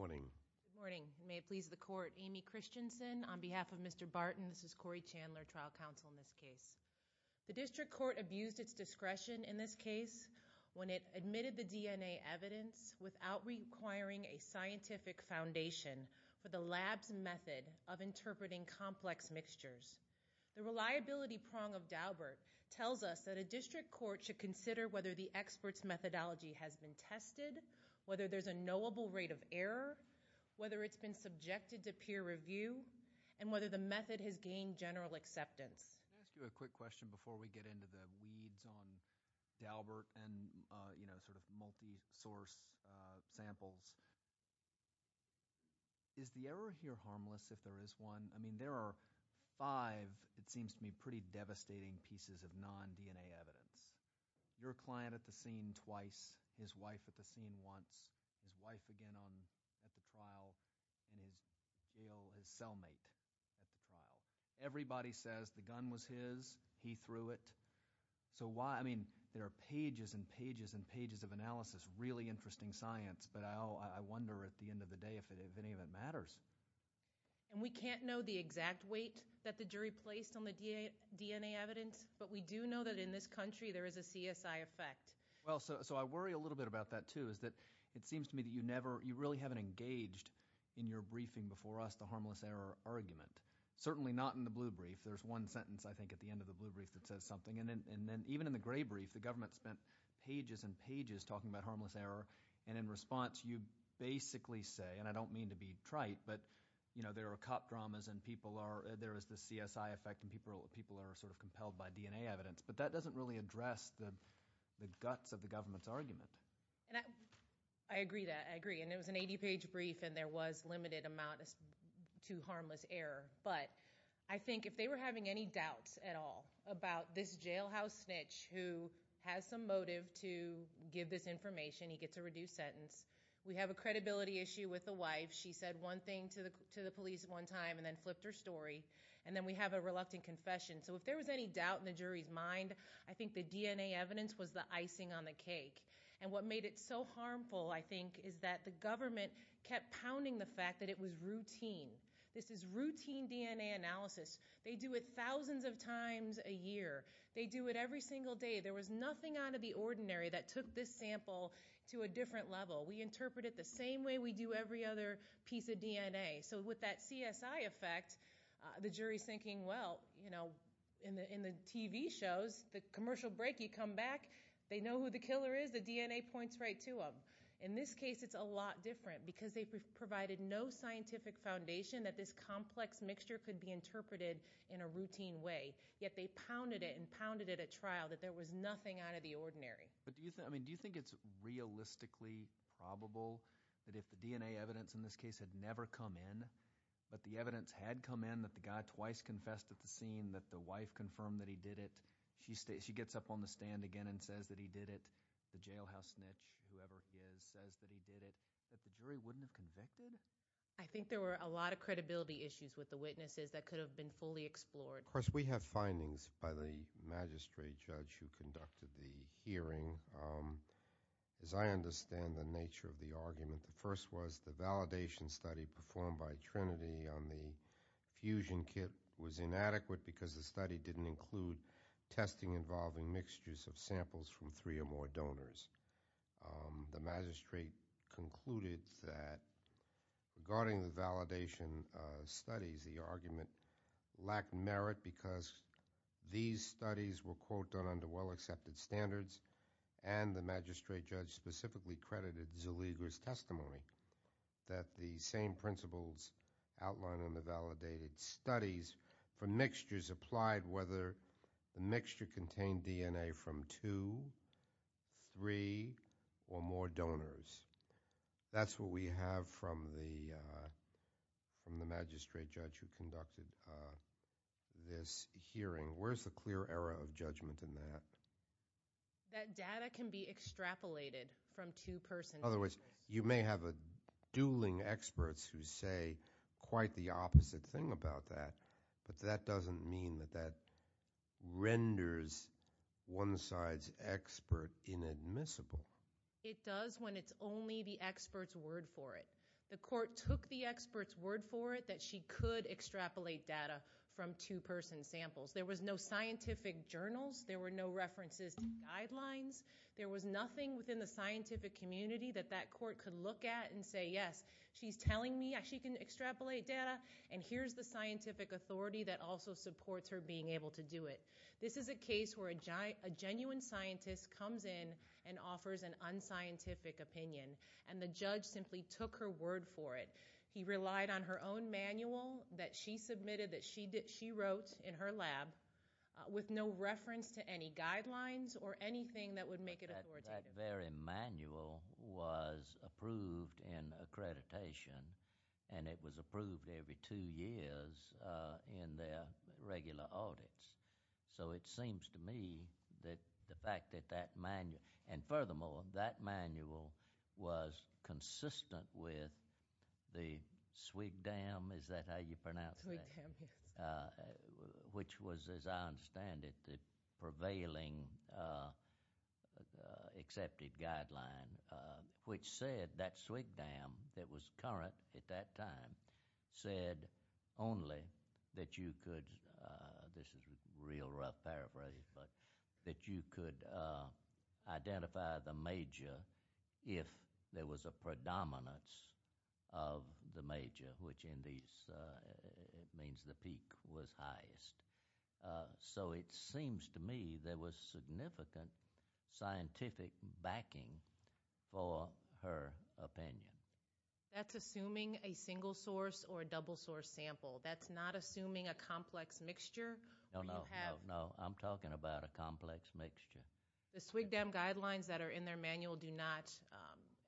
Good morning, may it please the court, Amy Christensen, on behalf of Mr. Barton, this case. The district court abused its discretion in this case when it admitted the DNA evidence without requiring a scientific foundation for the lab's method of interpreting complex mixtures. The reliability prong of Daubert tells us that a district court should consider whether the expert's methodology has been tested, whether there's a knowable rate of error, whether it's been subjected to peer review, and whether the method has gained general acceptance. Can I ask you a quick question before we get into the weeds on Daubert and, you know, sort of multi-source samples? Is the error here harmless if there is one? I mean, there are five, it seems to me, pretty devastating pieces of non-DNA evidence. Your client at the scene twice, his wife at the scene once, his wife again at the trial, and his cellmate at the trial. Everybody says the gun was his, he threw it. So why, I mean, there are pages and pages and pages of analysis, really interesting science, but I wonder at the end of the day if any of it matters. And we can't know the exact weight that the jury placed on the DNA evidence, but we do know that in this country there is a CSI effect. Well, so I worry a little bit about that, too, is that it seems to me that you never, you really haven't engaged in your briefing before us the harmless error argument. Certainly not in the blue brief. There's one sentence, I think, at the end of the blue brief that says something. And then even in the gray brief, the government spent pages and pages talking about harmless error, and in response you basically say, and I don't mean to be trite, but, you know, there are cop dramas and people are, there is the CSI effect and people are sort of compelled by DNA evidence. But that doesn't really address the guts of the government's argument. And I agree that, I agree. And it was an 80-page brief and there was limited amount to harmless error. But I think if they were having any doubts at all about this jailhouse snitch who has some motive to give this information, he gets a reduced sentence. We have a credibility issue with the wife. She said one thing to the police one time and then flipped her story. And then we have a reluctant confession. So if there was any doubt in the jury's mind, I think the DNA evidence was the icing on the cake. And what made it so harmful, I think, is that the government kept pounding the fact that it was routine. This is routine DNA analysis. They do it thousands of times a year. They do it every single day. There was nothing out of the ordinary that took this sample to a different level. We interpret it the same way we do every other piece of DNA. So with that CSI effect, the jury's thinking, well, you know, in the TV shows, the commercial break, you come back, they know who the killer is, the DNA points right to them. In this case, it's a lot different because they provided no scientific foundation that this complex mixture could be interpreted in a routine way. Yet they pounded it and pounded it at trial that there was nothing out of the ordinary. Do you think it's realistically probable that if the DNA evidence in this case had never come in, but the evidence had come in that the guy twice confessed at the scene that the wife confirmed that he did it, she gets up on the stand again and says that he did it, that the jury wouldn't have convicted? I think there were a lot of credibility issues with the witnesses that could have been fully explored. Of course, we have findings by the magistrate judge who conducted the hearing. As I understand the nature of the argument, the first was the validation study performed by Trinity on the fusion kit was inadequate because the study didn't include testing involving mixtures of samples from three or more donors. The magistrate concluded that regarding the validation studies, the argument lacked merit because these studies were, quote, done under well-accepted standards and the magistrate judge specifically credited Zaliga's testimony that the same principles outlined in the validated studies for mixtures applied whether the mixture contained DNA from two, three, or more donors. That's what we have from the magistrate judge who conducted this hearing. Where's the clear arrow of judgment in that? That data can be extrapolated from two persons. In other words, you may have dueling experts who say quite the opposite thing about that, but that doesn't mean that that renders one side's expert inadmissible. It does when it's only the expert's word for it. The court took the expert's word for it that she could extrapolate data from two-person samples. There was no scientific journals. There were no references to guidelines. There was nothing within the scientific community that that court could look at and say, yes, she's telling me she can extrapolate data and here's the scientific authority that also supports her being able to do it. This is a case where a genuine scientist comes in and offers an unscientific opinion and the judge simply took her word for it. He relied on her own manual that she submitted that she wrote in her lab with no reference to any guidelines or anything that would make it authoritative. That very manual was approved in accreditation and it was approved every two years in their regular audits. It seems to me that the fact that that manual, and furthermore, that manual was consistent with the SWGDAM, is that how you pronounce that? SWGDAM, yes. Which was, as I understand it, the prevailing accepted guideline, which said that SWGDAM that was current at that time said only that you could, this is real rough paraphrase, but that you could identify the major if there was a predominance of the major, which in these means the peak was highest. So it seems to me there was significant scientific backing for her opinion. That's assuming a single source or a double source sample. That's not assuming a complex mixture where you have No, I'm talking about a complex mixture. The SWGDAM guidelines that are in their manual do not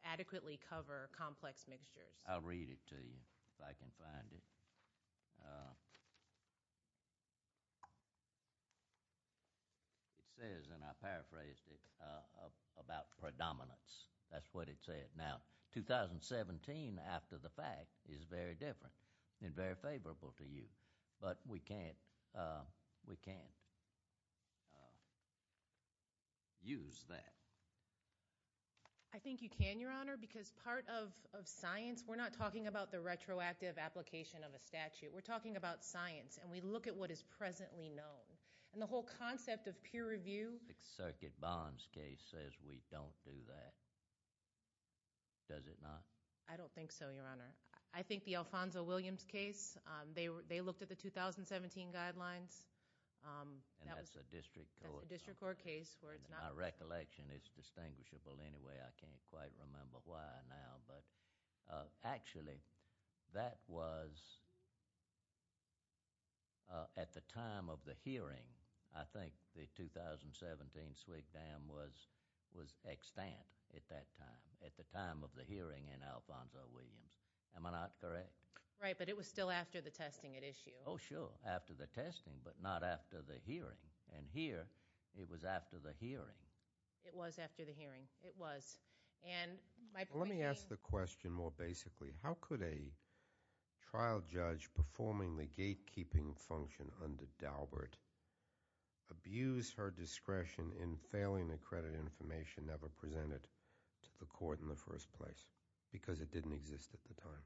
adequately cover complex mixtures. I'll read it to you if I can find it. It says, and I paraphrased it, about predominance. That's what it said. Now, 2017 after the fact is very different and very favorable to you, but we can't use that. I think you can, Your Honor, because part of science, we're not talking about the retroactive application of a statute. We're talking about science, and we look at what is presently known, and the whole concept of peer review The circuit bonds case says we don't do that. Does it not? I don't think so, Your Honor. I think the Alfonso Williams case, they looked at the 2017 guidelines. And that's a district court That's a district court case where it's not In my recollection, it's distinguishable anyway. I can't quite remember why now, but actually that was at the time of the hearing, I think the 2017 SWGDAM was extant at that time, at the time of the hearing in Alfonso Williams. Am I not correct? Right, but it was still after the testing at issue. Oh, sure. After the testing, but not after the hearing. And here, it was after the hearing. It was after the hearing. It was. Let me ask the question more basically. How could a trial judge performing the gatekeeping function under Daubert abuse her discretion in failing to credit information never presented to the court in the first place? Because it didn't exist at the time.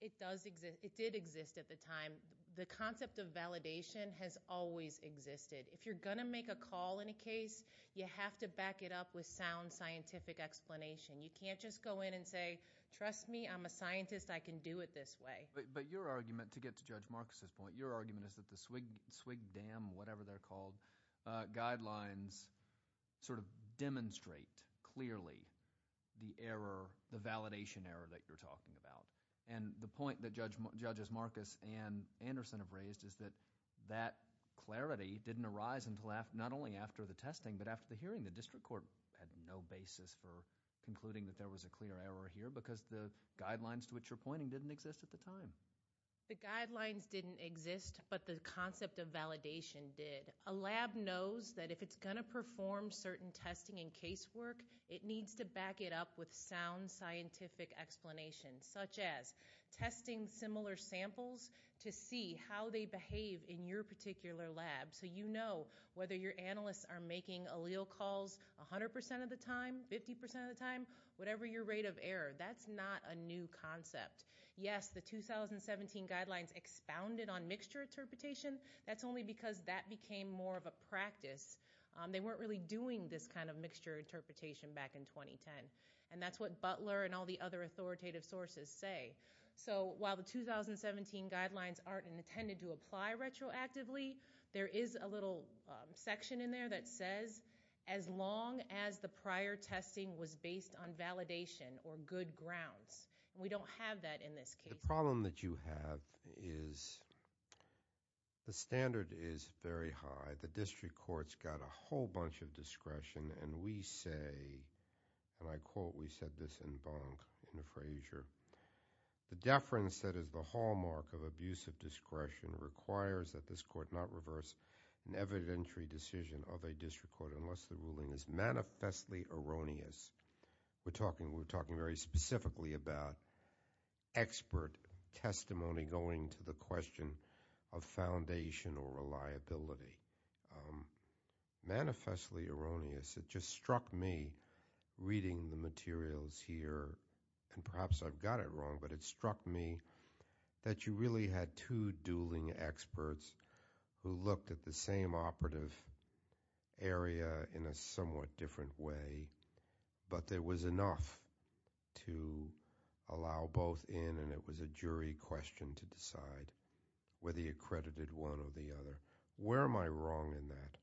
It did exist at the time. The concept of validation has always existed. If you're going to make a call in a case, you have to back it up with sound scientific explanation. You can't just go in and say, trust me, I'm a scientist, I can do it this way. But your argument, to get to Judge Marcus' point, your argument is that the SWGDAM, whatever they're called, guidelines demonstrate clearly the validation error that you're talking about. The point that Judges Marcus and Anderson have raised is that that clarity didn't arise not only after the testing, but after the hearing. The district court had no basis for concluding that there was a clear error here because the guidelines to which you're pointing didn't exist at the time. The guidelines didn't exist, but the concept of validation did. A lab knows that if it's going to perform certain testing and case work, it needs to back it up with sound scientific explanation, such as testing similar samples to see how they behave in your particular lab so you know whether your analysts are making allele calls 100% of the time, 50% of the time, whatever your rate of error. That's not a new concept. Yes, the 2017 guidelines expounded on mixture interpretation. That's only because that became more of a practice. They weren't really doing this kind of mixture interpretation back in 2010. And that's what Butler and all the other authoritative sources say. So while the 2017 guidelines aren't intended to apply retroactively, there is a little section in there that says, as long as the prior testing was based on validation or good grounds. And we don't have that in this case. The problem that you have is the standard is very high. The district court's got a whole bunch of discretion. And we say, and I quote, we said this in Bonk, in the Frazier, the deference that is the hallmark of abusive discretion requires that this court not reverse an evidentiary decision of a district court unless the ruling is manifestly erroneous. We're talking very specifically about expert testimony going to the question of foundation or reliability. Manifestly erroneous. It just struck me, reading the materials here, and perhaps I've got it wrong, but it struck me that you really had two ruling experts who looked at the same operative area in a somewhat different way, but there was enough to allow both in and it was a jury question to decide whether you credited one or the other. Where am I wrong in that?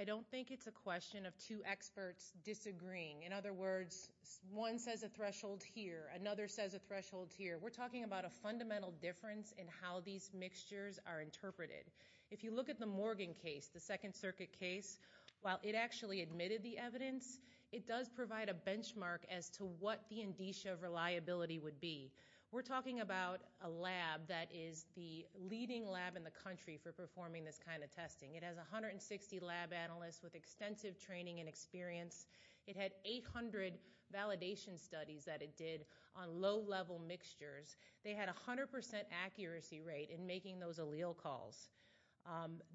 I don't think it's a question of two experts disagreeing. In other words, one says a threshold here, another says a threshold here. We're talking about a fundamental difference in how these mixtures are interpreted. If you look at the Morgan case, the Second Circuit case, while it actually admitted the evidence, it does provide a benchmark as to what the indicia of reliability would be. We're talking about a lab that is the leading lab in the country for performing this kind of testing. It has 160 lab analysts with extensive training and experience. It had 800 validation studies that it did on low-level mixtures. They had 100 percent accuracy rate in making those allele calls.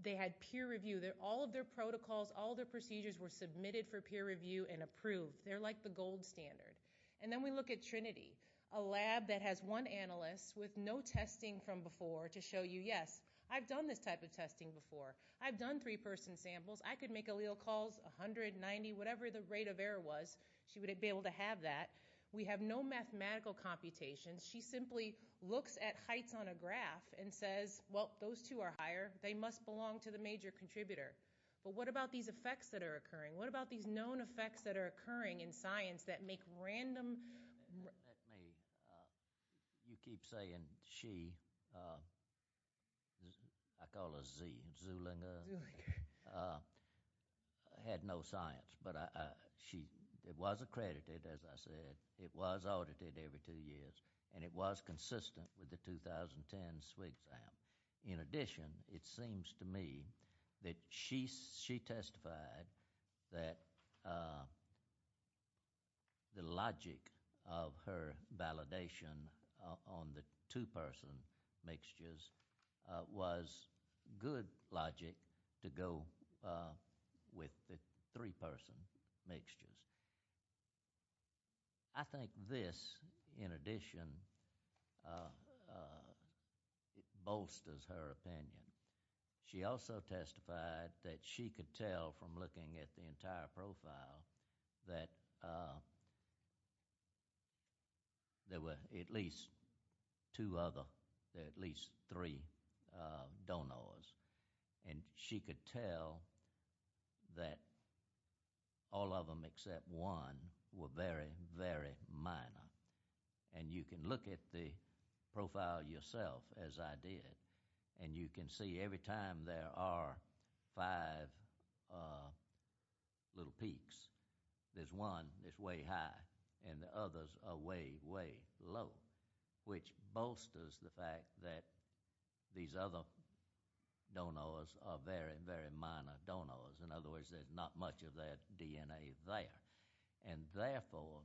They had peer review. All of their protocols, all of their procedures were submitted for peer review and approved. They're like the gold standard. Then we look at Trinity, a lab that has one analyst with no testing from before to show you, yes, I've done this type of testing before. I've done three-person samples. I could make allele calls, 190, whatever the rate of error was, she would be able to have that. We have no mathematical computations. She simply looks at heights on a graph and says, well, those two are higher. They must belong to the major contributor. But what about these effects that are occurring? What about these known effects that are occurring in science that make random... You keep saying she, I call her Z, Zulinger, had no science, but it was accredited, as I said. It was audited every two years, and it was consistent with the 2010 SWGSAM. In other words, her validation on the two-person mixtures was good logic to go with the three-person mixtures. I think this, in addition, bolsters her opinion. She also testified that she could tell from looking at the entire profile that there were at least two other, at least three, donors. And she could tell that all of them except one were very, very minor. And you can look at the profile yourself, as I did, and you can see every time there are five little peaks, there's one that's way high, and the others are way, way low, which bolsters the fact that these other donors are very, very minor donors. In other words, there's not much of that DNA there. And therefore,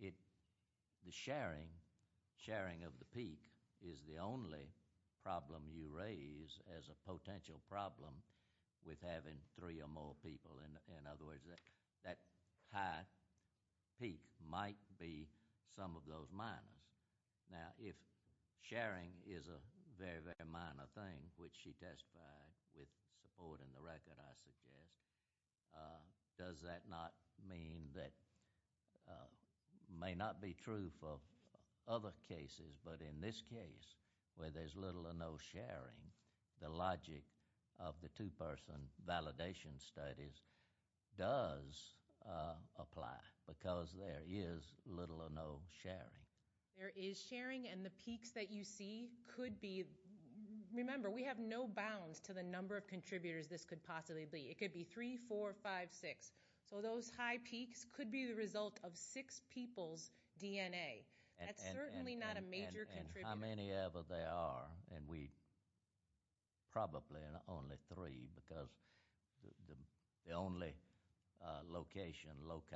the sharing of the peak is the only problem you raise as a potential problem with having three or more people. In other words, that high peak might be some of those minors. Now, if sharing is a very, very minor thing, which she testified with support in the record, I suggest, does that not mean that, may not be true for other cases, but in this case where there's little or no sharing, the logic of the two-person validation studies does apply, because there is little or no sharing. There is sharing, and the peaks that you see could be, remember, we have no bounds to the number of contributors this could possibly be. It could be three, four, five, six. So those high peaks could be the result of six people's DNA. That's certainly not a major contributor. How many ever there are, and we probably are only three, because the only location, loci,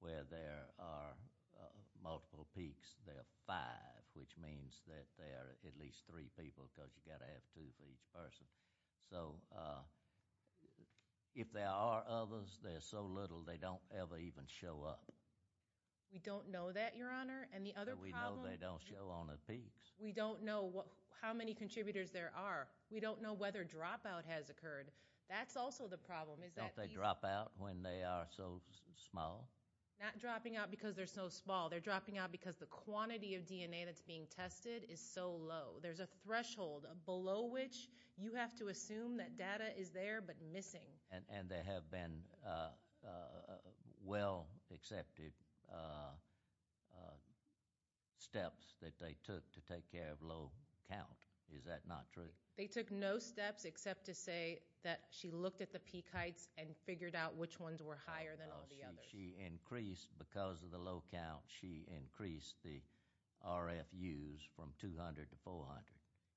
where there are multiple peaks, there are five, which means that there are at least three people, because you've got to have two for each person. So if there are others, there's so little they don't ever even show up. We don't know that, Your Honor. And the other problem— We don't know how many contributors there are. We don't know whether dropout has occurred. That's also the problem. Don't they drop out when they are so small? Not dropping out because they're so small. They're dropping out because the quantity of DNA that's being tested is so low. There's a threshold below which you have to assume that data is there but missing. And there have been well-accepted steps that they took to take care of low count. Is that not true? They took no steps except to say that she looked at the peak heights and figured out which ones were higher than all the others. She increased, because of the low count, she increased the RFUs from 200 to 400.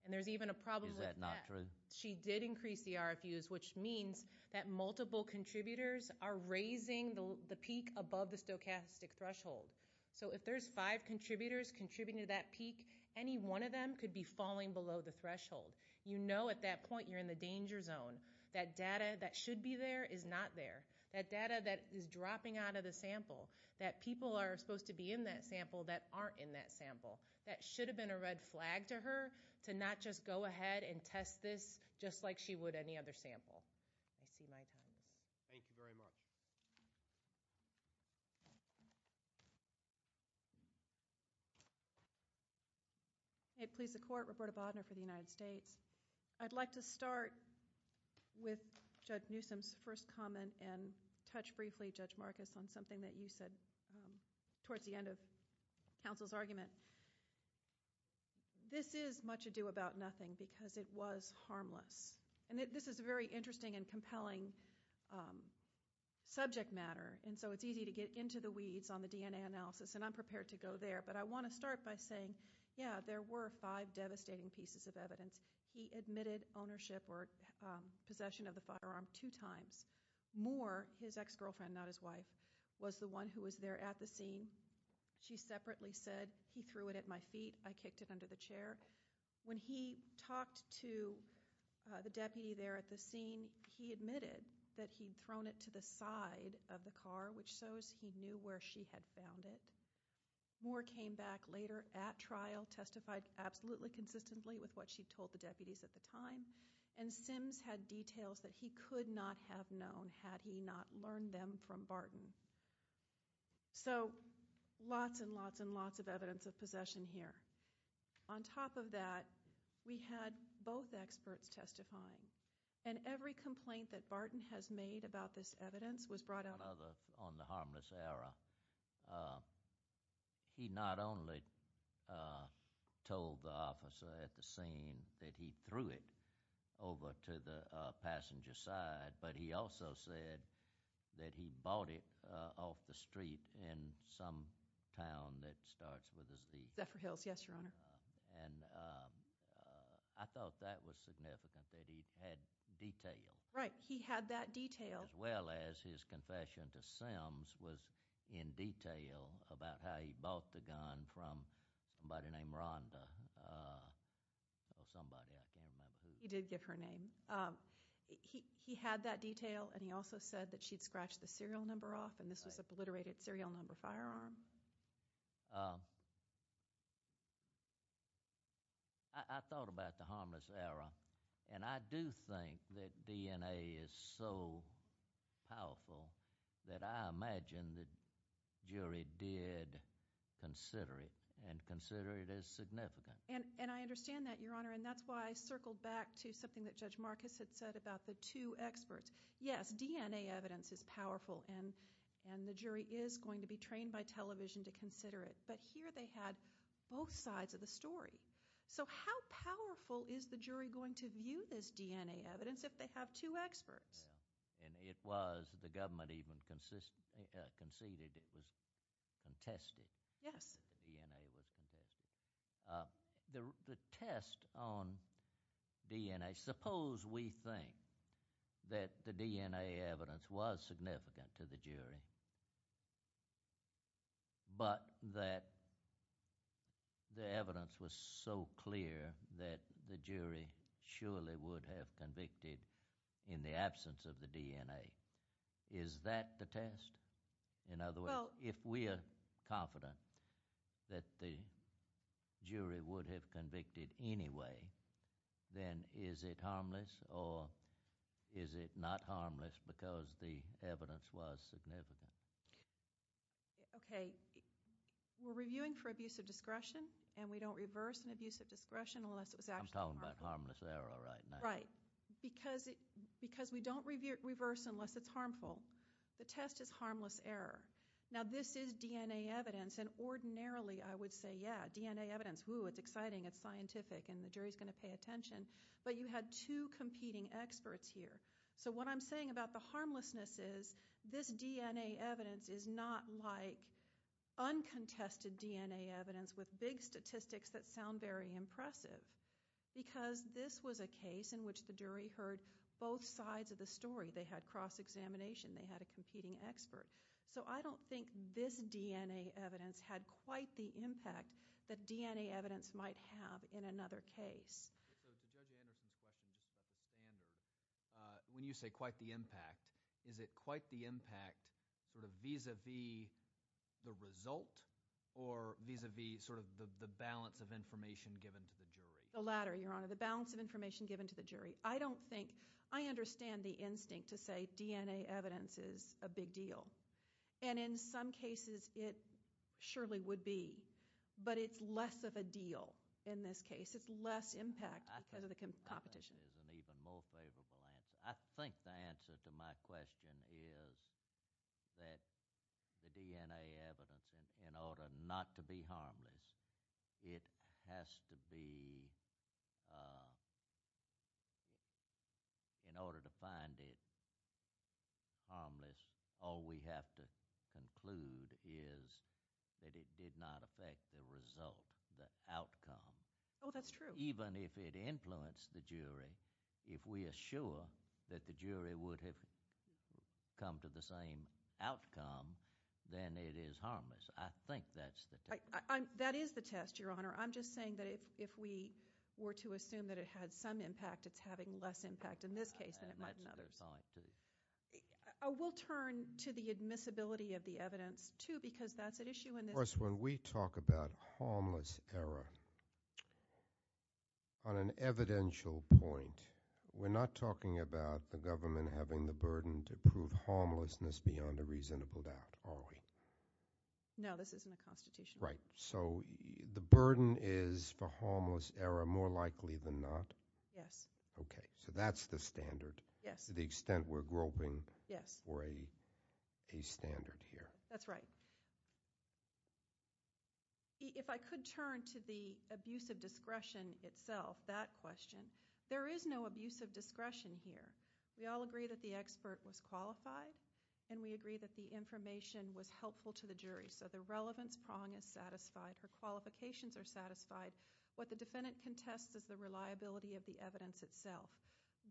And there's even a problem with that. Is that not true? She did increase the RFUs, which means that multiple contributors are raising the peak above the stochastic threshold. So if there's five contributors contributing to that peak, any one of them could be falling below the threshold. You know at that point you're in the danger zone. That data that should be there is not there. That data that is dropping out of the sample, that people are supposed to be in that sample that aren't in that sample. That should have been a red flag to her to not just go ahead and test this just like she would any other sample. I see my time is up. Thank you very much. May it please the Court, Reporter Bodnar for the United States. I'd like to start with Judge Newsom's first comment and touch briefly, Judge Marcus, on something that you said towards the end of counsel's argument. This is much ado about nothing because it was harmless. And this is a very interesting and compelling subject matter. And so it's easy to get into the weeds on the DNA analysis. And I'm prepared to go there. But I want to start by saying, yeah, there were five devastating pieces of evidence. He admitted ownership or possession of the firearm two times. Moore, his ex-girlfriend, not his wife, was the one who was there at the scene. She separately said, he threw it at my feet. I kicked it under the chair. When he talked to the deputy there at the scene, he admitted that he'd thrown it to the side of the car, which shows he knew where she had found it. Moore came back later at trial, testified absolutely consistently with what she told the deputies at the time. And Sims had details that he could not have known had he not learned them from Barton. So lots and lots and lots of evidence of possession here. On top of that, we had both experts testifying. And every complaint that Barton has made about this evidence was brought out on the harmless error. He not only told the officer at the scene that he threw it over to the passenger side, but he also said that he bought it off the street in some town that starts with a Z. Zephyr Hills, yes, Your Honor. And I thought that was significant, that he had detail. Right, he had that detail. As well as his confession to Sims was in detail about how he bought the gun from somebody named Rhonda, or somebody, I can't remember who. He did give her name. He had that detail, and he also said that she'd scratched the serial number off, and this was a obliterated serial number firearm. I thought about the harmless error, and I do think that DNA is so powerful that I imagine the jury did consider it and consider it as significant. And I understand that, Your Honor, and that's why I circled back to something that Judge Marcus had said about the two experts. Yes, DNA evidence is powerful, and the jury is going to be trained by television to consider it, but here they had both sides of the story. So how powerful is the jury going to view this DNA evidence if they have two experts? And it was, the government even conceded it was contested. Yes. The DNA was contested. The test on DNA, suppose we think that the DNA evidence was significant to the jury, but that the evidence was so clear that the jury surely would have convicted in the absence of the DNA. Is that the test? In other words, if we are confident that the jury would have convicted anyway, then is it harmless, or is it not harmless because the evidence was significant? Okay, we're reviewing for abuse of discretion, and we don't reverse an abuse of discretion unless it was actually harmful. I'm talking about harmless error right now. Right, because we don't reverse unless it's harmful. The test is harmless error. Now, this is DNA evidence, and ordinarily I would say, yeah, DNA evidence, ooh, it's exciting, it's scientific, and the jury's going to pay attention, but you had two competing experts here. So what I'm saying about the harmlessness is this DNA evidence is not like uncontested DNA evidence with big statistics that sound very impressive because this was a case in which the jury heard both sides of the story. They had cross-examination. They had a competing expert. So I don't think this DNA evidence had quite the impact that DNA evidence might have in another case. So to Judge Anderson's question about the standard, when you say quite the impact, is it quite the impact sort of vis-a-vis the result or vis-a-vis sort of the balance of information given to the jury? The latter, Your Honor, the balance of information given to the jury. I don't think, I understand the instinct to say DNA evidence is a big deal, and in some cases it surely would be, but it's less of a deal in this case. It's less impact because of the competition. I think that is an even more favorable answer. I think the answer to my question is that the DNA evidence, in order not to be harmless, it has to be, in order to find it harmless, all we have to conclude is that it did not affect the result, the outcome. Oh, that's true. Even if it influenced the jury, if we are sure that the jury would have come to the same outcome, then it is harmless. I think that's the test. That is the test, Your Honor. I'm just saying that if we were to assume that it had some impact, it's having less impact in this case than it might in others. I will turn to the admissibility of the evidence, too, because that's an issue in this case. Of course, when we talk about harmless error, on an evidential point, we're not talking about the government having the burden to prove homelessness beyond a reasonable doubt, are we? No, this isn't the Constitution. Right, so the burden is for harmless error more likely than not? Yes. Okay, so that's the standard. Yes. To the extent we're groping for a standard here. That's right. If I could turn to the abuse of discretion itself, that question, there is no abuse of discretion here. We all agree that the expert was qualified, and we agree that the information was helpful to the jury, so the relevance prong is satisfied. Her qualifications are satisfied. What the defendant contests is the reliability of the evidence itself.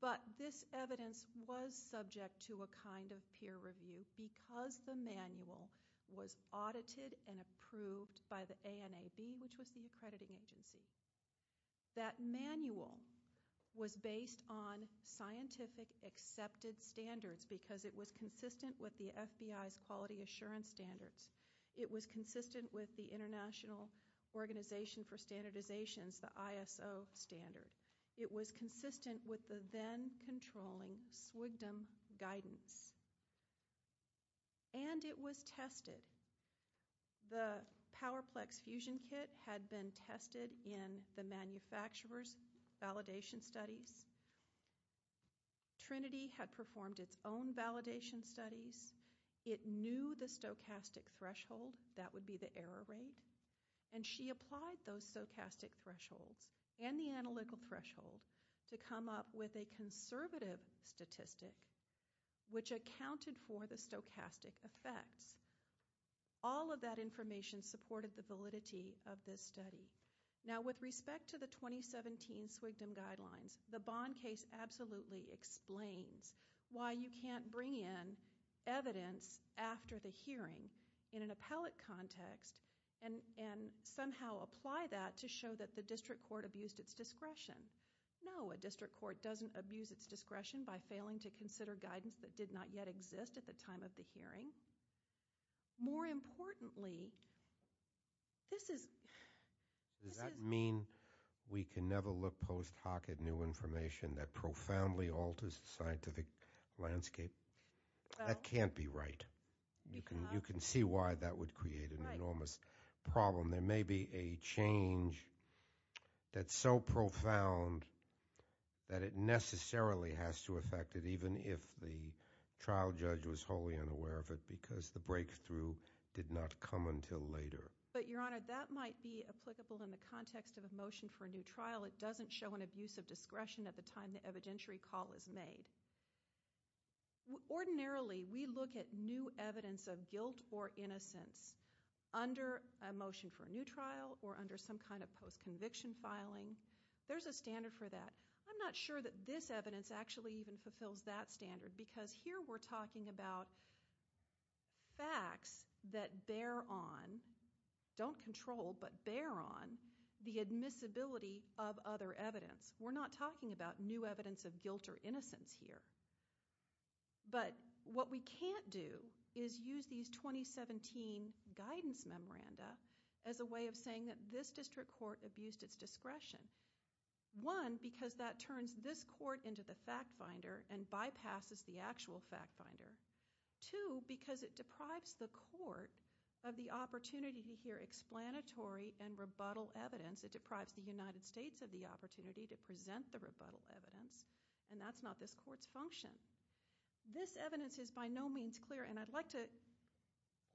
But this evidence was subject to a kind of peer review because the manual was audited and approved by the ANAB, which was the accrediting agency. That manual was based on scientific accepted standards because it was consistent with the FBI's quality assurance standards. It was consistent with the International Organization for Standardizations, the ISO standard. It was consistent with the then-controlling SWGDM guidance. And it was tested. The PowerPlex Fusion Kit had been tested in the manufacturer's validation studies. Trinity had performed its own validation studies. It knew the stochastic threshold. That would be the error rate. And she applied those stochastic thresholds and the analytical threshold to come up with a conservative statistic, which accounted for the stochastic effects. All of that information supported the validity of this study. Now, with respect to the 2017 SWGDM guidelines, the Bond case absolutely explains why you can't bring in evidence after the hearing in an appellate context and somehow apply that to show that the district court abused its discretion. No, a district court doesn't abuse its discretion by failing to consider guidance that did not yet exist at the time of the hearing. More importantly, this is... Does that mean we can never look post hoc at new information that profoundly alters the scientific landscape? That can't be right. You can see why that would create an enormous problem. There may be a change that's so profound that it necessarily has to affect it, even if the trial judge was wholly unaware of it, because the breakthrough did not come until later. But, Your Honor, that might be applicable in the context of a motion for a new trial. It doesn't show an abuse of discretion at the time the evidentiary call is made. Ordinarily, we look at new evidence of guilt or innocence under a motion for a new trial or under some kind of post-conviction filing. There's a standard for that. I'm not sure that this evidence actually even fulfills that standard, because here we're talking about facts that bear on, don't control, but bear on, the admissibility of other evidence. We're not talking about new evidence of guilt or innocence here. But what we can't do is use these 2017 guidance memoranda as a way of saying that this district court abused its discretion. One, because that turns this court into the fact-finder and bypasses the actual fact-finder. Two, because it deprives the court of the opportunity to hear explanatory and rebuttal evidence. It deprives the United States of the opportunity to present the rebuttal evidence, and that's not this court's function. This evidence is by no means clear, and I'd like to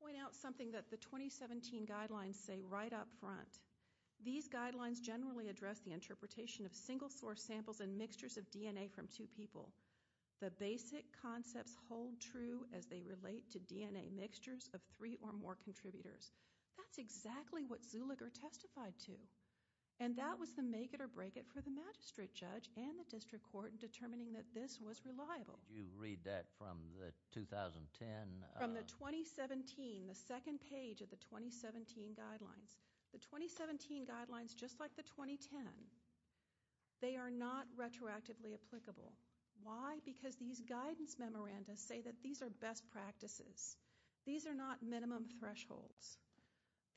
point out something that the 2017 guidelines say right up front. These guidelines generally address the interpretation of single-source samples and mixtures of DNA from two people. The basic concepts hold true as they relate to DNA mixtures of three or more contributors. That's exactly what Zuliger testified to. And that was the make-it-or-break-it for the magistrate judge and the district court in determining that this was reliable. Did you read that from the 2010? From the 2017, the second page of the 2017 guidelines. The 2017 guidelines, just like the 2010, they are not retroactively applicable. Why? Because these guidance memorandas say that these are best practices. These are not minimum thresholds.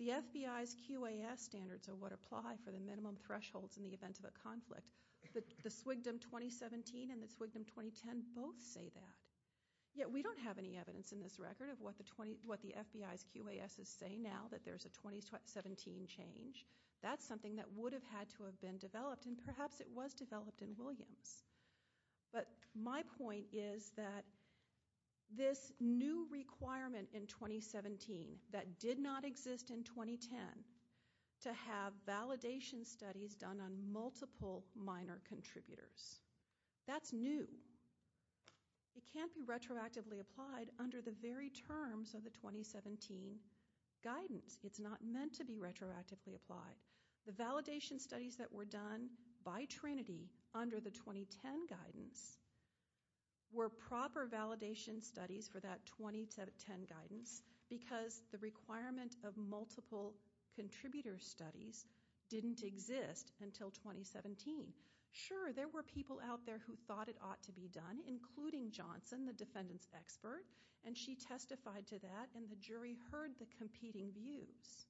The FBI's QAS standards are what apply for the minimum thresholds in the event of a conflict. The SWGDM 2017 and the SWGDM 2010 both say that. Yet we don't have any evidence in this record of what the FBI's QAS is saying now, that there's a 2017 change. That's something that would have had to have been developed, and perhaps it was developed in Williams. But my point is that this new requirement in 2017 that did not exist in 2010 to have validation studies done on multiple minor contributors. That's new. It can't be retroactively applied under the very terms of the 2017 guidance. It's not meant to be retroactively applied. The validation studies that were done by Trinity under the 2010 guidance were proper validation studies for that 2010 guidance because the requirement of multiple contributor studies didn't exist until 2017. Sure, there were people out there who thought it ought to be done, including Johnson, the defendant's expert, and she testified to that, and the jury heard the competing views.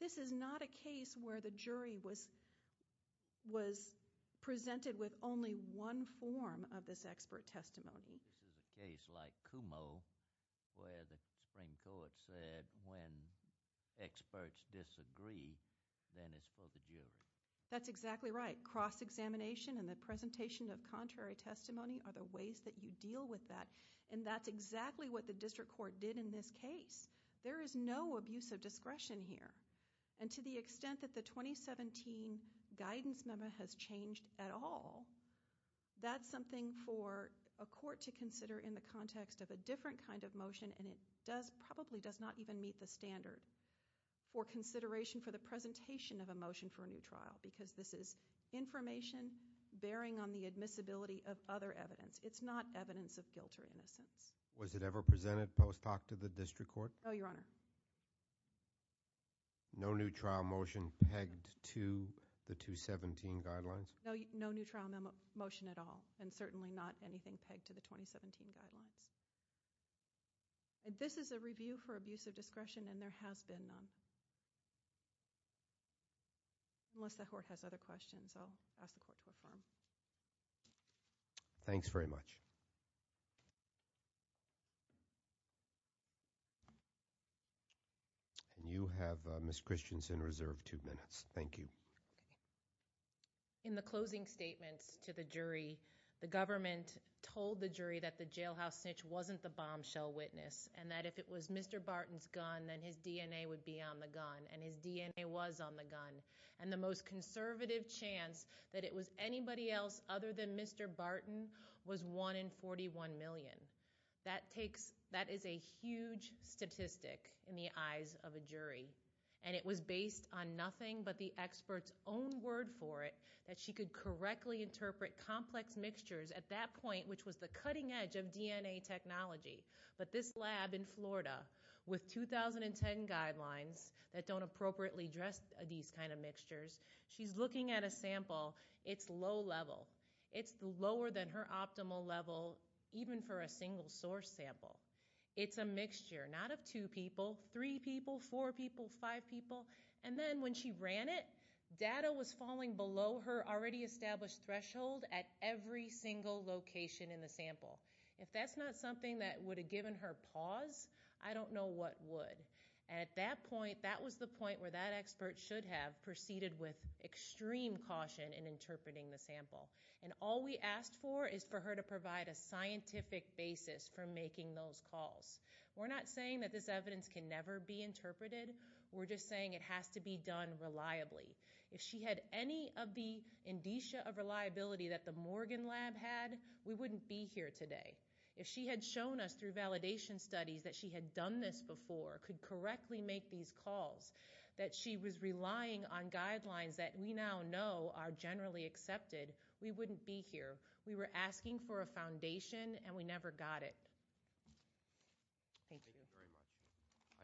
This is not a case where the jury was presented with only one form of this expert testimony. This is a case like Kumo where the Supreme Court said when experts disagree, then it's for the jury. That's exactly right. Cross-examination and the presentation of contrary testimony are the ways that you deal with that, and that's exactly what the district court did in this case. There is no abuse of discretion here, and to the extent that the 2017 guidance memo has changed at all, that's something for a court to consider in the context of a different kind of motion, and it probably does not even meet the standard for consideration for the presentation of a motion for a new trial because this is information bearing on the admissibility of other evidence. It's not evidence of guilt or innocence. Was it ever presented post hoc to the district court? No, Your Honor. No new trial motion pegged to the 2017 guidelines? No new trial motion at all, and certainly not anything pegged to the 2017 guidelines. This is a review for abuse of discretion, and there has been none. Unless the court has other questions, I'll ask the court to affirm. Thanks very much. And you have, Ms. Christensen, reserved two minutes. Thank you. In the closing statements to the jury, the government told the jury that the jailhouse snitch wasn't the bombshell witness and that if it was Mr. Barton's gun, then his DNA would be on the gun, and his DNA was on the gun, and the most conservative chance that it was anybody else other than Mr. Barton was one in 41 million. That is a huge statistic in the eyes of a jury, and it was based on nothing but the expert's own word for it that she could correctly interpret complex mixtures at that point, which was the cutting edge of DNA technology. But this lab in Florida, with 2010 guidelines that don't appropriately address these kind of mixtures, she's looking at a sample. It's low level. It's lower than her optimal level even for a single source sample. It's a mixture, not of two people, three people, four people, five people. And then when she ran it, data was falling below her already established threshold at every single location in the sample. If that's not something that would have given her pause, I don't know what would. At that point, that was the point where that expert should have proceeded with extreme caution in interpreting the sample. And all we asked for is for her to provide a scientific basis for making those calls. We're not saying that this evidence can never be interpreted. We're just saying it has to be done reliably. If she had any of the indicia of reliability that the Morgan lab had, we wouldn't be here today. If she had shown us through validation studies that she had done this before, could correctly make these calls, that she was relying on guidelines that we now know are generally accepted, we wouldn't be here. We were asking for a foundation, and we never got it. Thank you.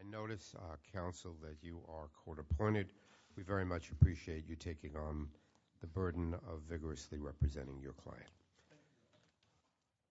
I notice, counsel, that you are court-appointed. We very much appreciate you taking on the burden of vigorously representing your client.